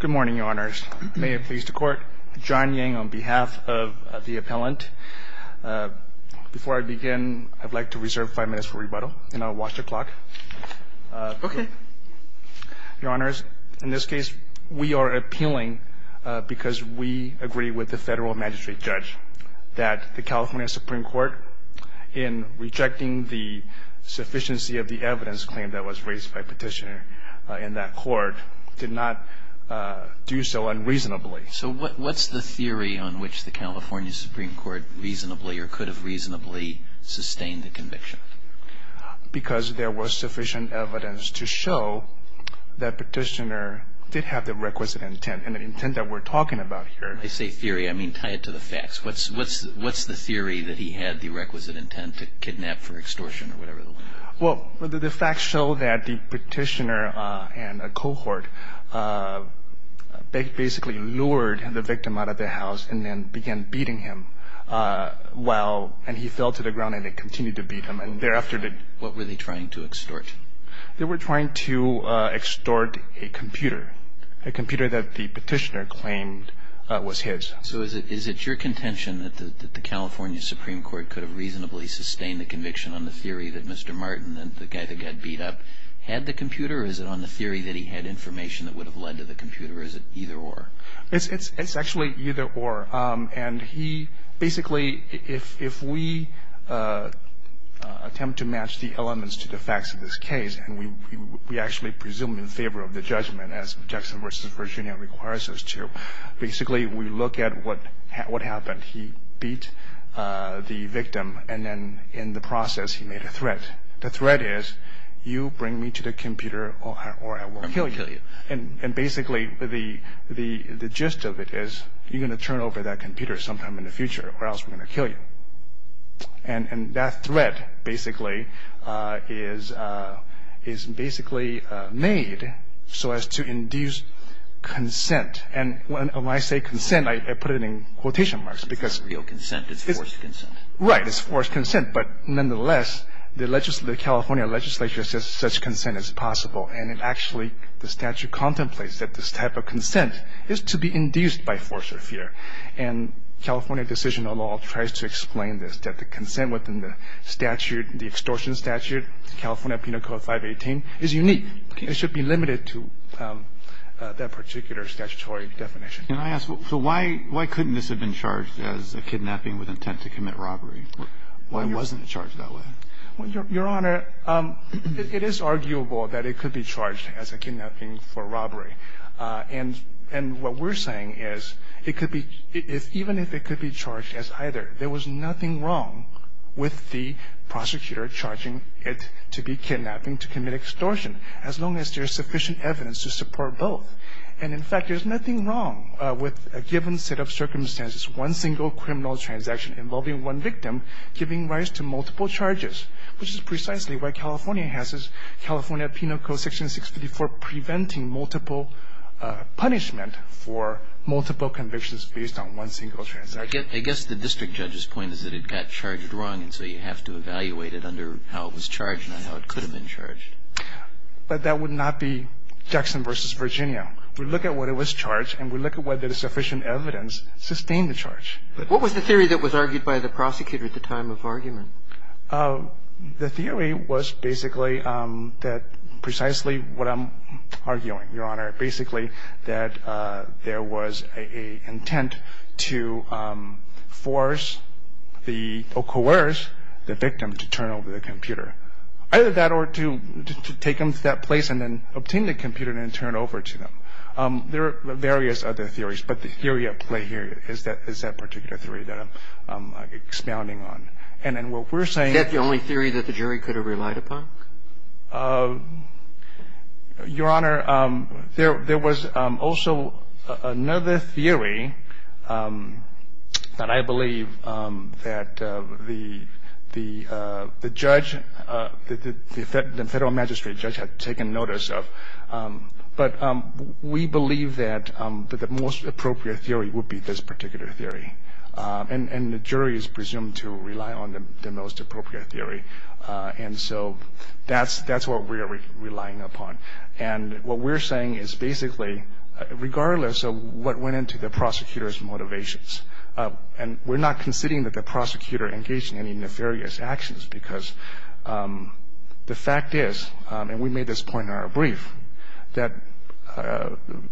Good morning, Your Honors. May it please the Court, John Yang on behalf of the appellant. Before I begin, I'd like to reserve five minutes for rebuttal and I'll watch the clock. Okay. Your Honors, in this case, we are appealing because we agree with the federal magistrate judge that the California Supreme Court, in rejecting the sufficiency of the evidence claim that was raised by Petitioner in that court, did not do so unreasonably. So what's the theory on which the California Supreme Court reasonably, or could have reasonably, sustained the conviction? Because there was sufficient evidence to show that Petitioner did have the requisite intent, and the intent that we're talking about here— When I say theory, I mean tie it to the facts. What's the theory that he had the requisite intent to kidnap for extortion or whatever the law? Well, the facts show that the Petitioner and a cohort basically lured the victim out of the house and then began beating him while—and he fell to the ground and they continued to beat him. And thereafter— What were they trying to extort? They were trying to extort a computer, a computer that the Petitioner claimed was his. So is it your contention that the California Supreme Court could have reasonably sustained the conviction on the theory that Mr. Martin, the guy that got beat up, had the computer, or is it on the theory that he had information that would have led to the computer, or is it either-or? It's actually either-or. And he basically—if we attempt to match the elements to the facts of this case, and we actually presume in favor of the judgment as Jackson v. Virginia requires us to, basically we look at what happened. He said he beat the victim and then in the process he made a threat. The threat is, you bring me to the computer or I will kill you. And basically the gist of it is, you're going to turn over that computer sometime in the future or else we're going to kill you. And that threat basically is basically made so as to induce consent. And when I say consent, I put it in quotation marks because- It's not real consent. It's forced consent. Right. It's forced consent. But nonetheless, the California legislature says such consent is possible. And it actually, the statute contemplates that this type of consent is to be induced by force or fear. And California Decision on Law tries to explain this, that the consent within the statute, the extortion statute, California Penal Code 518, is unique. Okay. And it should be limited to that particular statutory definition. Can I ask, so why couldn't this have been charged as a kidnapping with intent to commit robbery? Why wasn't it charged that way? Well, Your Honor, it is arguable that it could be charged as a kidnapping for robbery. And what we're saying is it could be, even if it could be charged as either, there was nothing wrong with the prosecutor charging it to be kidnapping to commit extortion as long as there's sufficient evidence to support both. And in fact, there's nothing wrong with a given set of circumstances, one single criminal transaction involving one victim giving rise to multiple charges, which is precisely why California has this California Penal Code Section 654 preventing multiple punishment for multiple convictions based on one single transaction. I guess the district judge's point is that it got charged wrong, and so you have to evaluate it under how it was charged and how it could have been charged. But that would not be Jackson v. Virginia. We look at what it was charged, and we look at whether sufficient evidence sustained the charge. What was the theory that was argued by the prosecutor at the time of argument? The theory was basically that precisely what I'm arguing, Your Honor, basically that there was an intent to force the or coerce the victim to turn over the computer, either that or to take them to that place and then obtain the computer and then turn it over to them. There are various other theories, but the theory at play here is that particular theory that I'm expounding on. And then what we're saying – Is that the only theory that the jury could have relied upon? Your Honor, there was also another theory that I believe that the judge – the federal magistrate judge had taken notice of. But we believe that the most appropriate theory would be this particular theory, and the jury is presumed to rely on the most appropriate theory. And so that's what we are relying upon. And what we're saying is basically regardless of what went into the prosecutor's motivations – and we're not considering that the prosecutor engaged in any nefarious actions because the fact is, and we made this point in our brief, that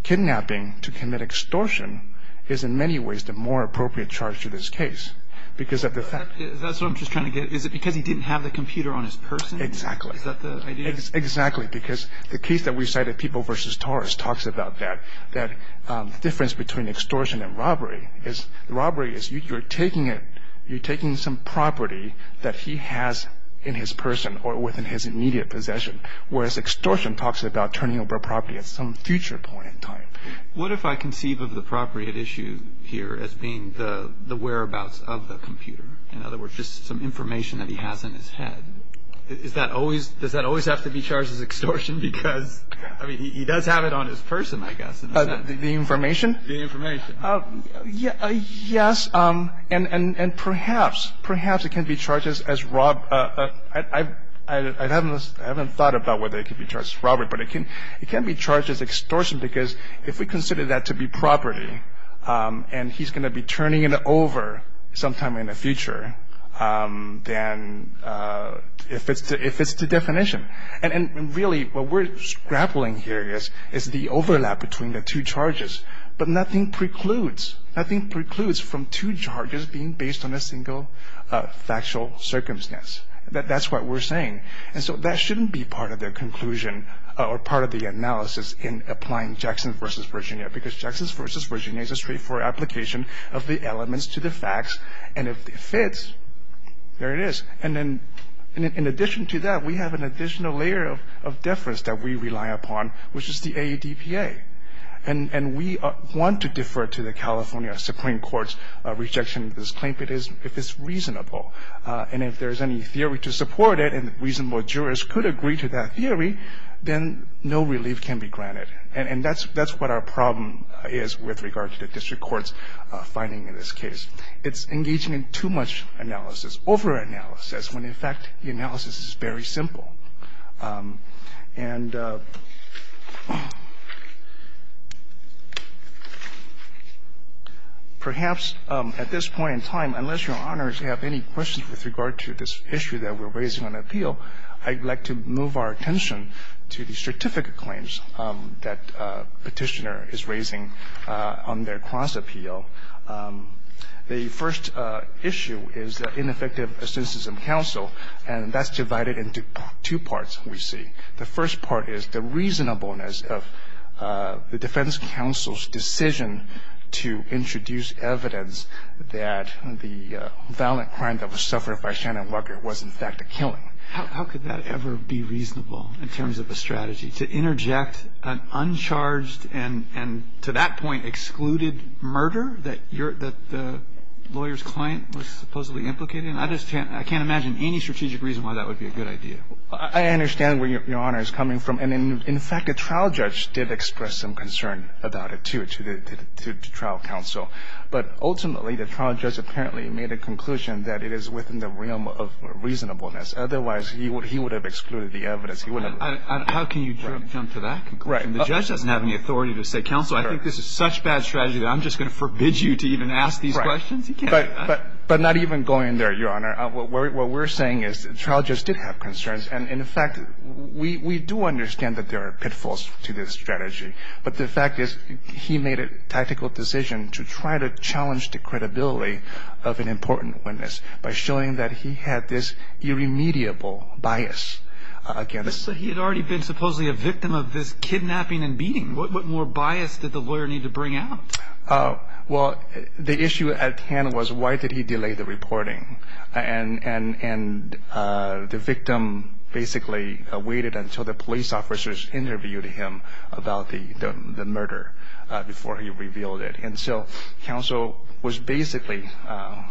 kidnapping to commit extortion is in many ways the more appropriate charge to this case because of the fact – Is that what I'm just trying to get? Is it because he didn't have the computer on his person? Exactly. Is that the idea? Exactly, because the case that we cited, People v. Torres, talks about that difference between extortion and robbery. Robbery is you're taking some property that he has in his person or within his immediate possession, whereas extortion talks about turning over property at some future point in time. What if I conceive of the appropriate issue here as being the whereabouts of the computer? In other words, just some information that he has in his head. Does that always have to be charged as extortion? Because, I mean, he does have it on his person, I guess. The information? The information. Yes. And perhaps, perhaps it can be charged as robbery. I haven't thought about whether it can be charged as robbery, but it can be charged as extortion because if we consider that to be property and he's going to be turning it over sometime in the future, then it fits the definition. And really what we're grappling here is the overlap between the two charges, but nothing precludes, nothing precludes from two charges being based on a single factual circumstance. That's what we're saying. And so that shouldn't be part of their conclusion or part of the analysis in applying Jackson v. Virginia because Jackson v. Virginia is a straightforward application of the elements to the facts, and if it fits, there it is. And then in addition to that, we have an additional layer of deference that we rely upon, which is the AEDPA. And we want to defer to the California Supreme Court's rejection of this claim if it's reasonable. And if there's any theory to support it and reasonable jurors could agree to that theory, then no relief can be granted. And that's what our problem is with regard to the district court's finding in this case. It's engaging in too much analysis, overanalysis, when in fact the analysis is very simple. And perhaps at this point in time, unless Your Honors have any questions with regard to this issue that we're raising on appeal, I'd like to move our attention to the certificate claims that Petitioner is raising on their cross-appeal. The first issue is the ineffective assentism counsel, and that's divided into two parts, we see. The first part is the reasonableness of the defense counsel's decision to introduce evidence that the violent crime that was suffered by Shannon Wucker was in fact a killing. How could that ever be reasonable in terms of a strategy, to interject an uncharged and to that point excluded murder that the lawyer's client was supposedly implicated in? I just can't imagine any strategic reason why that would be a good idea. I understand where Your Honor is coming from. And in fact, the trial judge did express some concern about it, too, to the trial counsel. But ultimately, the trial judge apparently made a conclusion that it is within the realm of reasonableness. Otherwise, he would have excluded the evidence. He wouldn't have. And how can you jump to that conclusion? Right. The judge doesn't have any authority to say, counsel, I think this is such bad strategy that I'm just going to forbid you to even ask these questions. Right. But not even going there, Your Honor. What we're saying is the trial judge did have concerns. And in fact, we do understand that there are pitfalls to this strategy. But the fact is he made a tactical decision to try to challenge the credibility of an important witness by showing that he had this irremediable bias against him. But he had already been supposedly a victim of this kidnapping and beating. What more bias did the lawyer need to bring out? Well, the issue at hand was why did he delay the reporting? And the victim basically waited until the police officers interviewed him about the murder before he revealed it. And so counsel was basically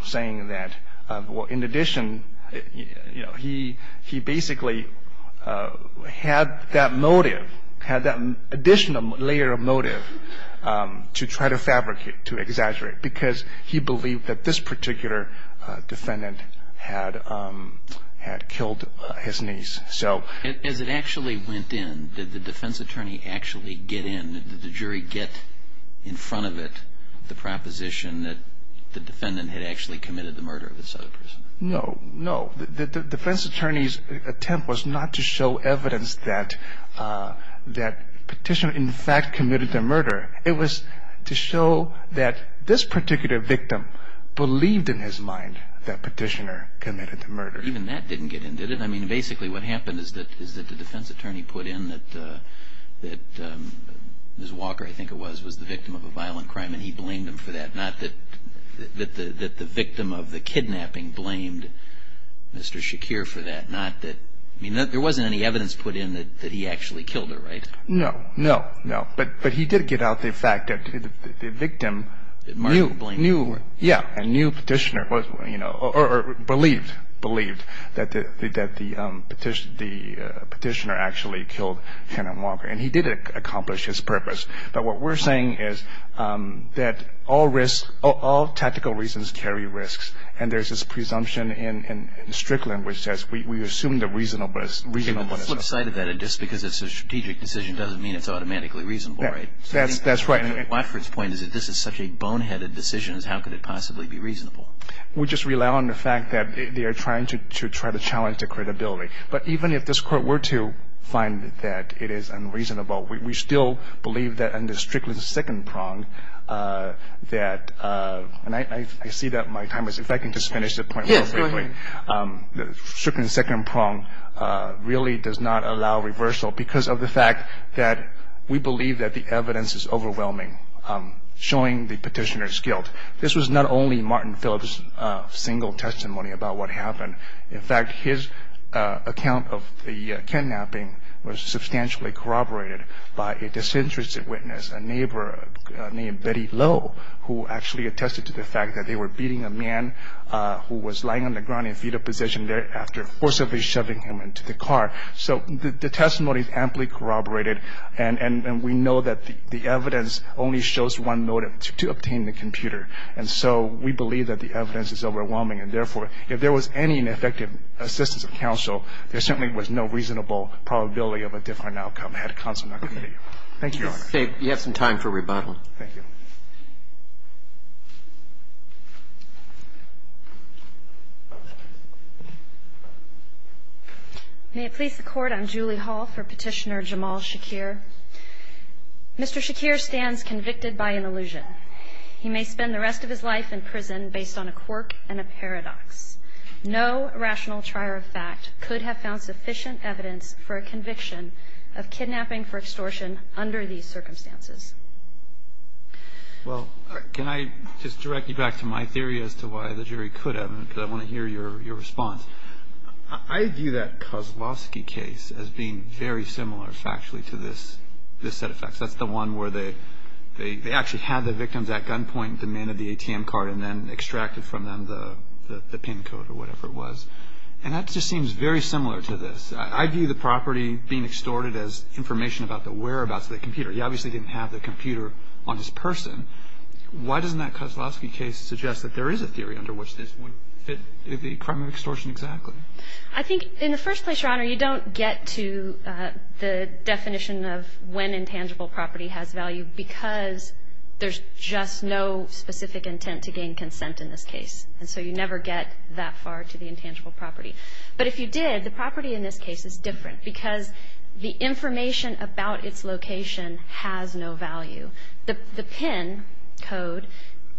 saying that in addition, he basically had that motive, had that additional layer of motive to try to fabricate, to exaggerate, because he believed that this particular defendant had killed his niece. So as it actually went in, did the defense attorney actually get in? Did the jury get in front of it the proposition that the defendant had actually committed the murder of this other person? No. The defense attorney's attempt was not to show evidence that Petitioner, in fact, committed the murder. It was to show that this particular victim believed in his mind that Petitioner committed the murder. Even that didn't get in, did it? I mean, basically what happened is that the defense attorney put in that Ms. Walker, I think it was, was the victim of a violent crime, and he blamed him for that. Not that the victim of the kidnapping blamed Mr. Shakir for that. Not that, I mean, there wasn't any evidence put in that he actually killed her, right? No. No. No. But he did get out the fact that the victim knew. Knew. Knew. Yeah. And knew Petitioner was, you know, or believed, believed that the Petitioner actually killed Hannah Walker. And he did accomplish his purpose. But what we're saying is that all risks, all tactical reasons carry risks. And there's this presumption in Strickland which says we assume the reasonable is reasonable. On the flip side of that, just because it's a strategic decision doesn't mean it's automatically reasonable, right? That's right. And Watford's point is that this is such a boneheaded decision as how could it possibly be reasonable? We just rely on the fact that they are trying to try to challenge the credibility. But even if this Court were to find that it is unreasonable, we still believe that under Strickland's second prong that, and I see that my time is, if I can just finish the point real quickly. Yes, go ahead. Strickland's second prong really does not allow reversal because of the fact that we believe that the evidence is overwhelming showing the Petitioner's guilt. This was not only Martin Phillips' single testimony about what happened. In fact, his account of the kidnapping was substantially corroborated by a disinterested witness, a neighbor named Betty Lowe, who actually attested to the fact that they were beating a man who was lying on the ground in fetal position thereafter, forcibly shoving him into the car. So the testimony is amply corroborated, and we know that the evidence only shows one motive, to obtain the computer. And so we believe that the evidence is overwhelming. And therefore, if there was any effective assistance of counsel, there certainly was no reasonable probability of a different outcome had counsel not committed Thank you, Your Honor. You have some time for rebuttal. Thank you. May it please the Court. I'm Julie Hall for Petitioner Jamal Shakir. Mr. Shakir stands convicted by an illusion. He may spend the rest of his life in prison based on a quirk and a paradox. No rational trier of fact could have found sufficient evidence for a conviction of kidnapping for extortion under these circumstances. Well, can I just direct you back to my theory as to why the jury could have? Because I want to hear your response. I view that Kozlowski case as being very similar factually to this set of facts. That's the one where they actually had the victims at gunpoint, demanded the ATM card, and then extracted from them the PIN code or whatever it was. And that just seems very similar to this. I view the property being extorted as information about the whereabouts of the computer. He obviously didn't have the computer on his person. Why doesn't that Kozlowski case suggest that there is a theory under which this would fit the crime of extortion exactly? I think in the first place, Your Honor, you don't get to the definition of when intangible property has value because there's just no specific intent to gain consent in this case. And so you never get that far to the intangible property. But if you did, the property in this case is different because the information about its location has no value. The PIN code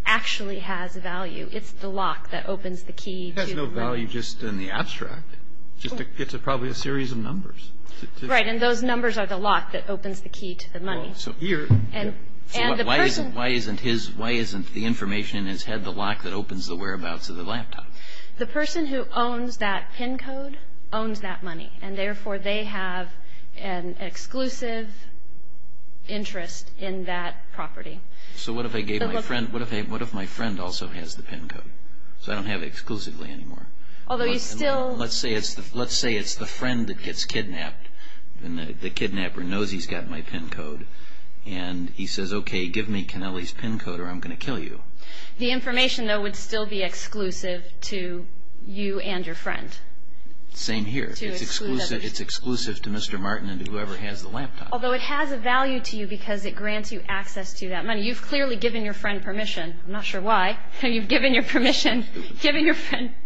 actually has value. It's the lock that opens the key to the money. It has no value just in the abstract. It's probably a series of numbers. Right, and those numbers are the lock that opens the key to the money. So why isn't the information in his head the lock that opens the whereabouts of the laptop? The person who owns that PIN code owns that money, and therefore they have an exclusive interest in that property. So what if my friend also has the PIN code? So I don't have it exclusively anymore. Let's say it's the friend that gets kidnapped, and the kidnapper knows he's got my PIN code, and he says, okay, give me Kennelly's PIN code or I'm going to kill you. The information, though, would still be exclusive to you and your friend. Same here. It's exclusive to Mr. Martin and whoever has the laptop. Although it has a value to you because it grants you access to that money. You've clearly given your friend permission. I'm not sure why. You've given your friend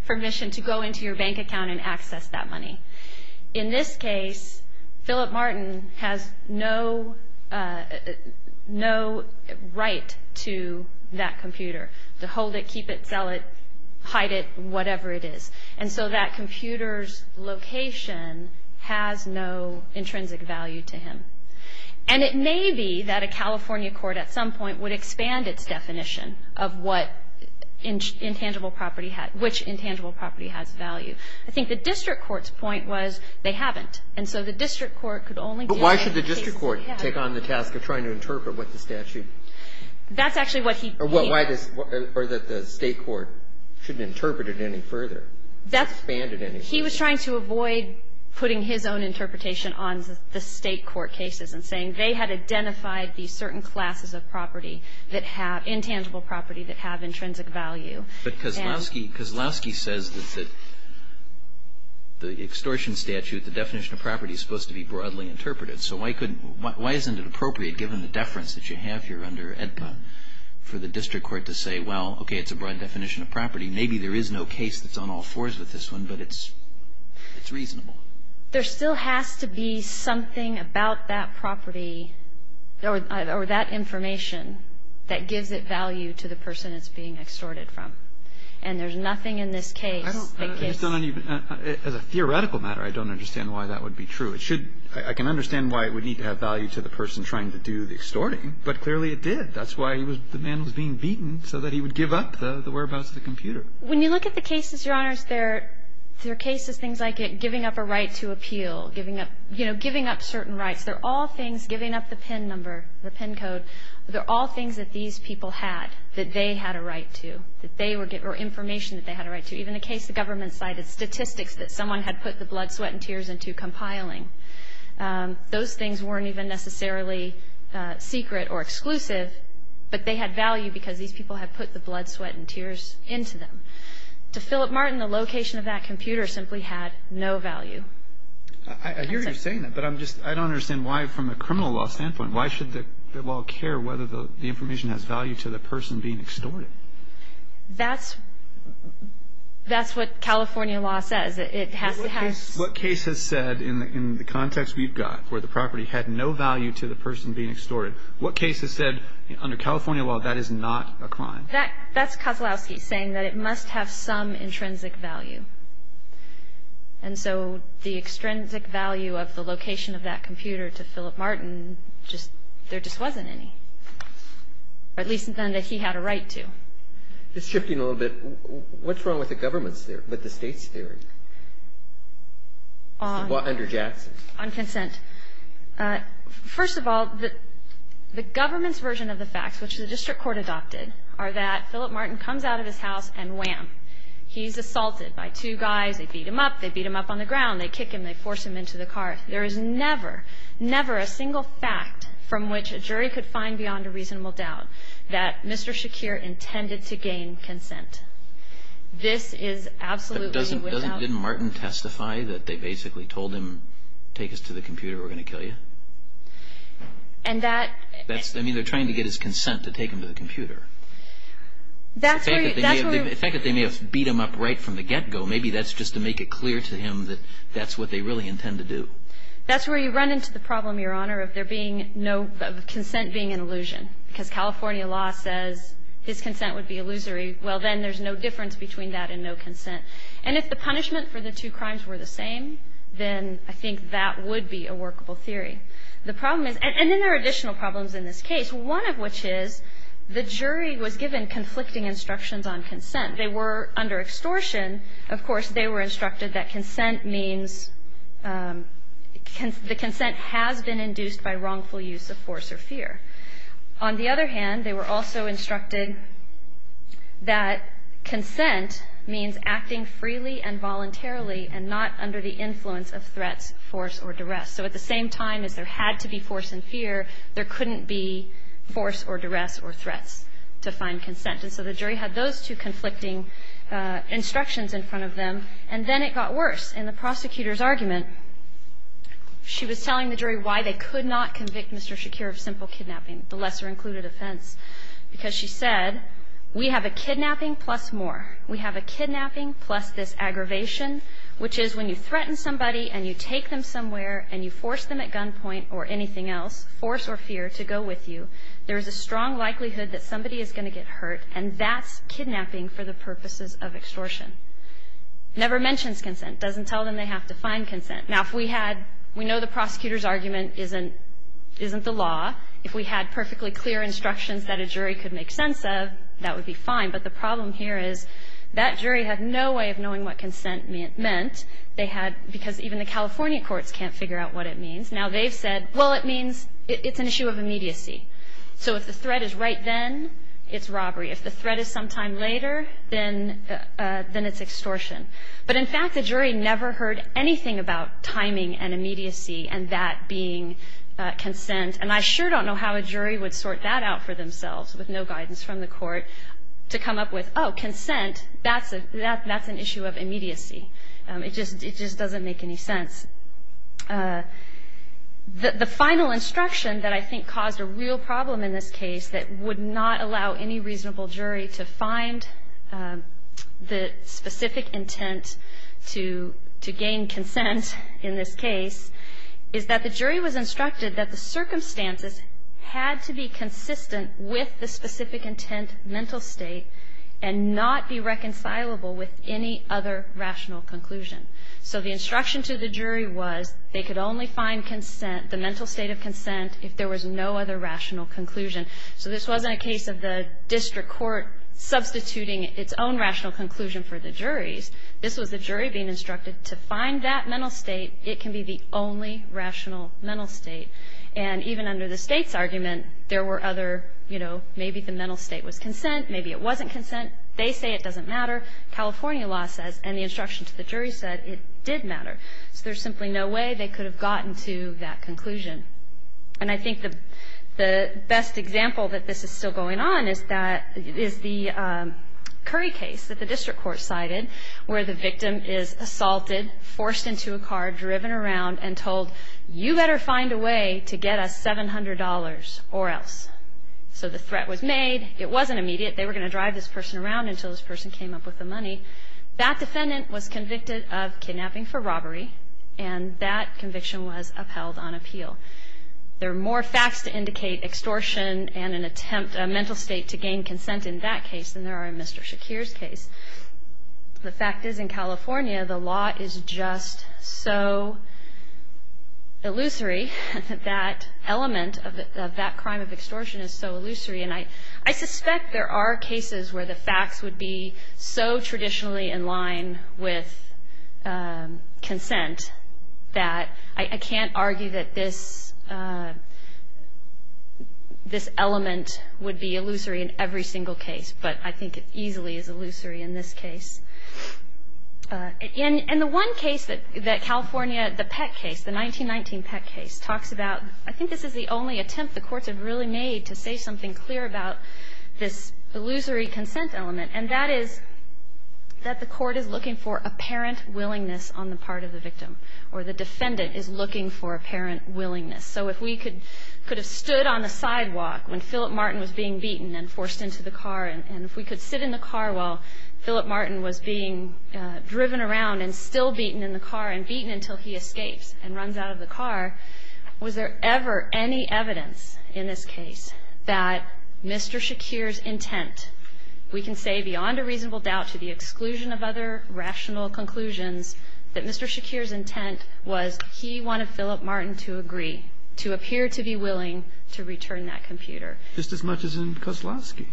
permission to go into your bank account and access that money. In this case, Philip Martin has no right to that computer, to hold it, keep it, sell it, hide it, whatever it is. And so that computer's location has no intrinsic value to him. And it may be that a California court at some point would expand its definition of what intangible property has – which intangible property has value. I think the district court's point was they haven't. And so the district court could only deal with cases they have. But why should the district court take on the task of trying to interpret what the statute – That's actually what he – Or that the state court shouldn't interpret it any further, expand it any further. He was trying to avoid putting his own interpretation on the state court cases and saying they had identified these certain classes of property that have – intangible property that have intrinsic value. But Kozlowski says that the extortion statute, the definition of property, is supposed to be broadly interpreted. So why couldn't – why isn't it appropriate, given the deference that you have here under AEDPA, for the district court to say, well, okay, it's a broad definition of property. Maybe there is no case that's on all fours with this one, but it's reasonable. There still has to be something about that property or that information that gives it value to the person it's being extorted from. And there's nothing in this case that gives – I don't – as a theoretical matter, I don't understand why that would be true. It should – I can understand why it would need to have value to the person trying to do the extorting, but clearly it did. That's why he was – the man was being beaten, so that he would give up the whereabouts of the computer. When you look at the cases, Your Honors, there are cases, things like giving up a right to appeal, giving up – you know, giving up certain rights. They're all things – giving up the PIN number, the PIN code, they're all things that these people had that they had a right to, that they were – or information that they had a right to. Even the case the government cited, statistics that someone had put the blood, sweat and tears into compiling, those things weren't even necessarily secret or exclusive but they had value because these people had put the blood, sweat and tears into them. To Philip Martin, the location of that computer simply had no value. That's it. I hear you saying that, but I'm just – I don't understand why, from a criminal law standpoint, why should the law care whether the information has value to the person being extorted? That's – that's what California law says. It has to have – What case has said, in the context we've got, where the property had no value to the Under California law, that is not a crime. That – that's Kozlowski saying that it must have some intrinsic value. And so the extrinsic value of the location of that computer to Philip Martin just – there just wasn't any. Or at least none that he had a right to. Just shifting a little bit, what's wrong with the government's theory – with the state's theory? Under Jackson. On consent. First of all, the government's version of the facts, which the district court adopted, are that Philip Martin comes out of his house and wham. He's assaulted by two guys. They beat him up. They beat him up on the ground. They kick him. They force him into the car. There is never, never a single fact from which a jury could find beyond a reasonable doubt that Mr. Shakir intended to gain consent. This is absolutely without – And that – That's – I mean, they're trying to get his consent to take him to the computer. That's where – The fact that they may have beat him up right from the get-go, maybe that's just to make it clear to him that that's what they really intend to do. That's where you run into the problem, Your Honor, of there being no – of consent being an illusion. Because California law says his consent would be illusory. Well, then there's no difference between that and no consent. And if the punishment for the two crimes were the same, then I think that would be a workable theory. The problem is – and then there are additional problems in this case, one of which is the jury was given conflicting instructions on consent. They were under extortion. Of course, they were instructed that consent means – the consent has been induced by wrongful use of force or fear. On the other hand, they were also instructed that consent means acting freely and voluntarily and not under the influence of threats, force, or duress. So at the same time as there had to be force and fear, there couldn't be force or duress or threats to find consent. And so the jury had those two conflicting instructions in front of them. And then it got worse. In the prosecutor's argument, she was telling the jury why they could not convict Mr. Shakir of simple kidnapping, the lesser-included offense. Because she said, we have a kidnapping plus more. We have a kidnapping plus this aggravation, which is when you threaten somebody and you take them somewhere and you force them at gunpoint or anything else, force or fear, to go with you, there is a strong likelihood that somebody is going to get hurt, and that's kidnapping for the purposes of extortion. Never mentions consent. Doesn't tell them they have to find consent. Now, if we had, we know the prosecutor's argument isn't the law. If we had perfectly clear instructions that a jury could make sense of, that would be fine. But the problem here is that jury had no way of knowing what consent meant. They had, because even the California courts can't figure out what it means. Now, they've said, well, it means it's an issue of immediacy. So if the threat is right then, it's robbery. If the threat is sometime later, then it's extortion. But, in fact, the jury never heard anything about timing and immediacy and that being consent. And I sure don't know how a jury would sort that out for themselves with no guidance from the court to come up with, oh, consent, that's an issue of immediacy. It just doesn't make any sense. The final instruction that I think caused a real problem in this case that would not allow any specific intent to gain consent in this case is that the jury was instructed that the circumstances had to be consistent with the specific intent mental state and not be reconcilable with any other rational conclusion. So the instruction to the jury was they could only find consent, the mental state of consent, if there was no other rational conclusion. So this wasn't a case of the district court substituting its own rational conclusion for the juries. This was the jury being instructed to find that mental state. It can be the only rational mental state. And even under the state's argument, there were other, you know, maybe the mental state was consent, maybe it wasn't consent, they say it doesn't matter, California law says, and the instruction to the jury said it did matter. So there's simply no way they could have gotten to that conclusion. And I think the best example that this is still going on is the Curry case that the district court cited where the victim is assaulted, forced into a car, driven around, and told you better find a way to get us $700 or else. So the threat was made. It wasn't immediate. They were going to drive this person around until this person came up with the money. That defendant was convicted of kidnapping for robbery, and that conviction was upheld on appeal. There are more facts to indicate extortion and an attempt, a mental state to gain consent in that case than there are in Mr. Shakir's case. The fact is in California, the law is just so illusory. That element of that crime of extortion is so illusory. And I suspect there are cases where the facts would be so traditionally in line with consent that I can't argue that this element would be illusory in every single case, but I think it easily is illusory in this case. And the one case that California, the Peck case, the 1919 Peck case, talks about, I think this is the only attempt the courts have really made to say something clear about this illusory consent element, and that is that the court is looking for apparent willingness on the part of the victim, or the defendant is looking for apparent willingness. So if we could have stood on the sidewalk when Philip Martin was being beaten and forced into the car, and if we could sit in the car while Philip Martin was being driven around and still beaten in the car and beaten until he escapes and runs out of the car, was there ever any evidence in this case that Mr. Shakir's intent, we can say beyond a reasonable doubt to the exclusion of other rational conclusions, that Mr. Shakir's intent was he wanted Philip Martin to agree to appear to be willing to return that computer? Just as much as in Koslowski.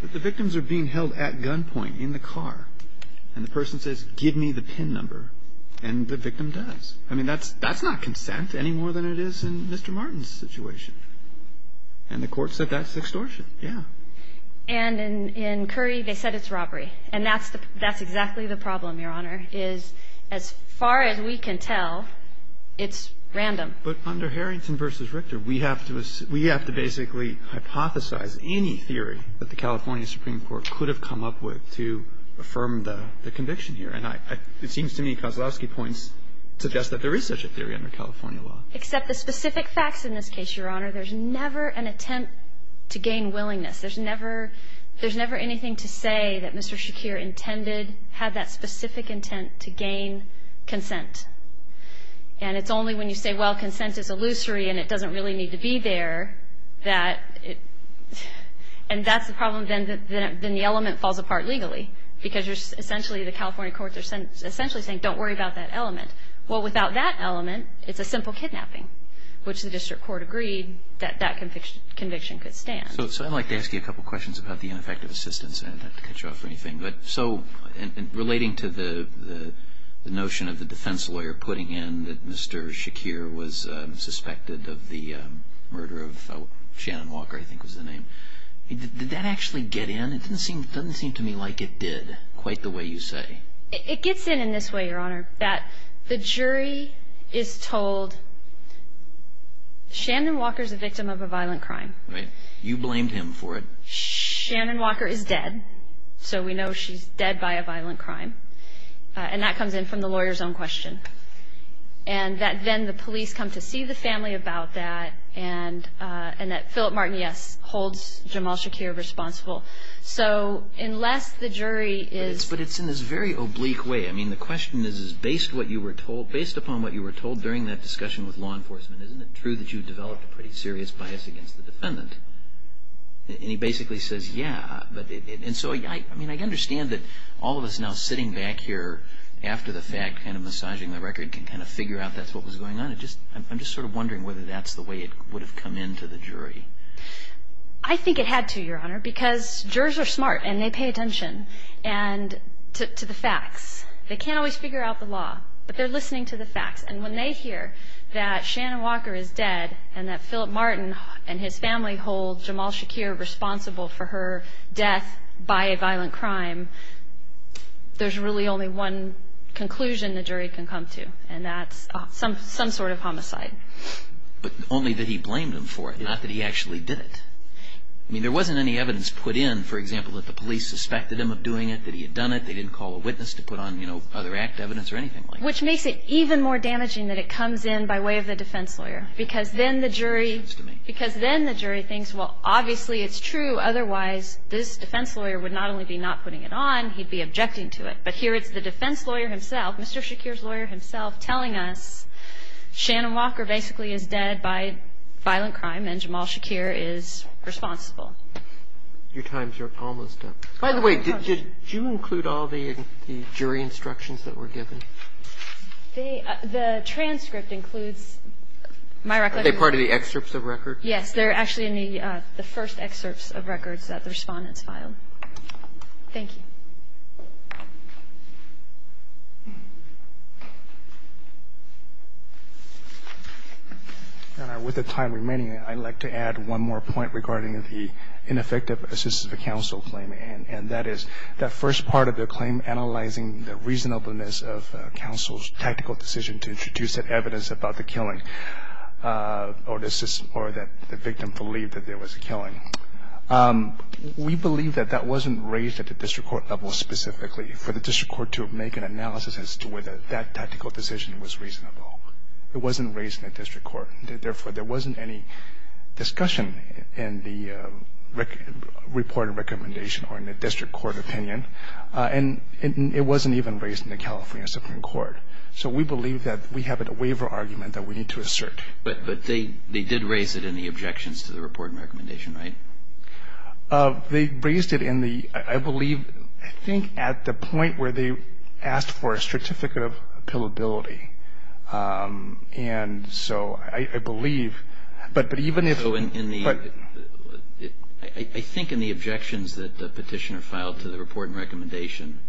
But the victims are being held at gunpoint in the car. And the person says, give me the PIN number, and the victim does. I mean, that's not consent any more than it is in Mr. Martin's situation. And the court said that's extortion. Yeah. And in Curry, they said it's robbery. And that's exactly the problem, Your Honor, is as far as we can tell, it's random. But under Harrington v. Richter, we have to basically hypothesize any theory that the California Supreme Court could have come up with to affirm the conviction here. And it seems to me Koslowski points suggests that there is such a theory under California law. Except the specific facts in this case, Your Honor, there's never an attempt to gain willingness. There's never anything to say that Mr. Shakir intended, had that specific intent to gain consent. And it's only when you say, well, consent is illusory, and it doesn't really need to be there, that it – and that's the problem, then the element falls apart legally. Because essentially the California courts are essentially saying, don't worry about that element. Well, without that element, it's a simple kidnapping, which the district court agreed that that conviction could stand. So I'd like to ask you a couple questions about the ineffective assistance. I don't have to cut you off or anything. Relating to the notion of the defense lawyer putting in that Mr. Shakir was suspected of the murder of Shannon Walker, I think was the name, did that actually get in? It doesn't seem to me like it did, quite the way you say. It gets in in this way, Your Honor, that the jury is told Shannon Walker's a victim of a violent crime. Right. You blamed him for it. Shannon Walker is dead, so we know she's dead by a violent crime. And that comes in from the lawyer's own question. And that then the police come to see the family about that, and that Philip Martin, yes, holds Jamal Shakir responsible. So unless the jury is – But it's in this very oblique way. I mean, the question is, is based upon what you were told during that discussion with law enforcement, isn't it true that you developed a pretty serious bias against the defendant? And he basically says, yeah. And so, I mean, I understand that all of us now sitting back here after the fact, kind of massaging the record, can kind of figure out that's what was going on. I'm just sort of wondering whether that's the way it would have come into the jury. I think it had to, Your Honor, because jurors are smart, and they pay attention to the facts. They can't always figure out the law, but they're listening to the facts. And when they hear that Shannon Walker is dead, and that Philip Martin and his family hold Jamal Shakir responsible for her death by a violent crime, there's really only one conclusion the jury can come to, and that's some sort of homicide. But only that he blamed them for it, not that he actually did it. I mean, there wasn't any evidence put in, for example, that the police suspected him of doing it, that he had done it, they didn't call a witness to put on, you know, other act evidence or anything like that. So I don't think that's the way it would have come into the jury. And I think that's the way it would have come into the jury, which makes it even more damaging that it comes in by way of the defense lawyer, because then the jury thinks, well, obviously it's true, otherwise this defense lawyer would not only be not putting it on, he'd be objecting to it. But here it's the defense lawyer himself, Mr. Shakir's lawyer himself, telling us Shannon Walker basically is dead by violent crime and Jamal Shakir is responsible. Your time's almost up. By the way, did you include all the jury instructions that were given? The transcript includes my recollection. Are they part of the excerpts of records? Yes. They're actually in the first excerpts of records that the Respondents filed. Thank you. With the time remaining, I'd like to add one more point regarding the ineffective assistance of counsel claim, and that is that first part of the claim analyzing the reasonableness of counsel's tactical decision to introduce evidence about the killing or that the victim believed that there was a killing. We believe that that wasn't raised at the district court level specifically. For the district court to make an analysis as to whether that tactical decision was reasonable. It wasn't raised in the district court. Therefore, there wasn't any discussion in the report and recommendation or in the district court opinion. And it wasn't even raised in the California Supreme Court. So we believe that we have a waiver argument that we need to assert. But they did raise it in the objections to the report and recommendation, right? They raised it in the, I believe, I think at the point where they asked for a certificate of appealability. And so I believe, but even if. I think in the objections that the Petitioner filed to the report and recommendation,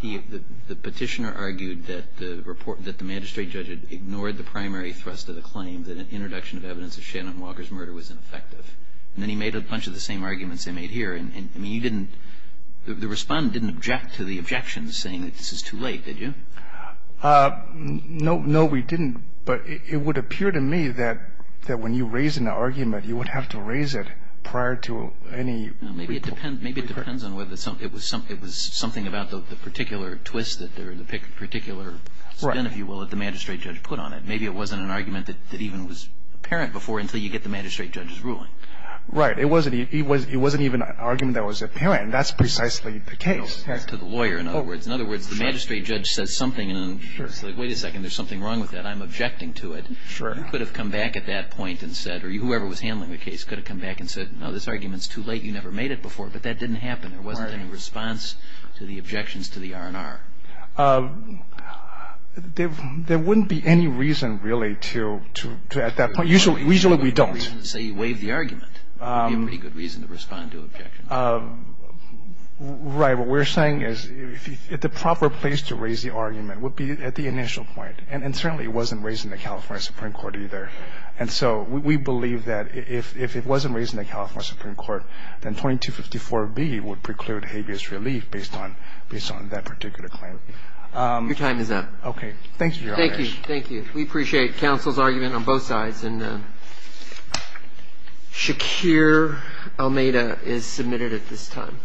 the Petitioner argued that the report, that the magistrate judge had ignored the primary thrust of the claim, that an introduction of evidence of Shannon Walker's murder was ineffective. And then he made a bunch of the same arguments they made here. And, I mean, you didn't, the Respondent didn't object to the objections saying that this is too late, did you? No, we didn't. But it would appear to me that when you raise an argument, you would have to raise it prior to any. Maybe it depends on whether it was something about the particular twist or the particular spin, if you will, that the magistrate judge put on it. Maybe it wasn't an argument that even was apparent before until you get the magistrate judge's ruling. Right. It wasn't even an argument that was apparent. That's precisely the case. To the lawyer, in other words. In other words, the magistrate judge says something, and it's like, wait a second, there's something wrong with that. I'm objecting to it. Sure. He could have come back at that point and said, or whoever was handling the case could have come back and said, no, this argument's too late. You never made it before. But that didn't happen. There wasn't any response to the objections to the R&R. There wouldn't be any reason, really, to at that point. Usually, we don't. Say you waive the argument. It would be a pretty good reason to respond to objections. Right. What we're saying is the proper place to raise the argument would be at the initial point. And certainly it wasn't raised in the California Supreme Court either. And so we believe that if it wasn't raised in the California Supreme Court, then 2254B would preclude habeas relief based on that particular claim. Your time is up. Okay. Thank you, Your Honor. Thank you. Thank you. We appreciate counsel's argument on both sides. And Shakir Almeida is submitted at this time.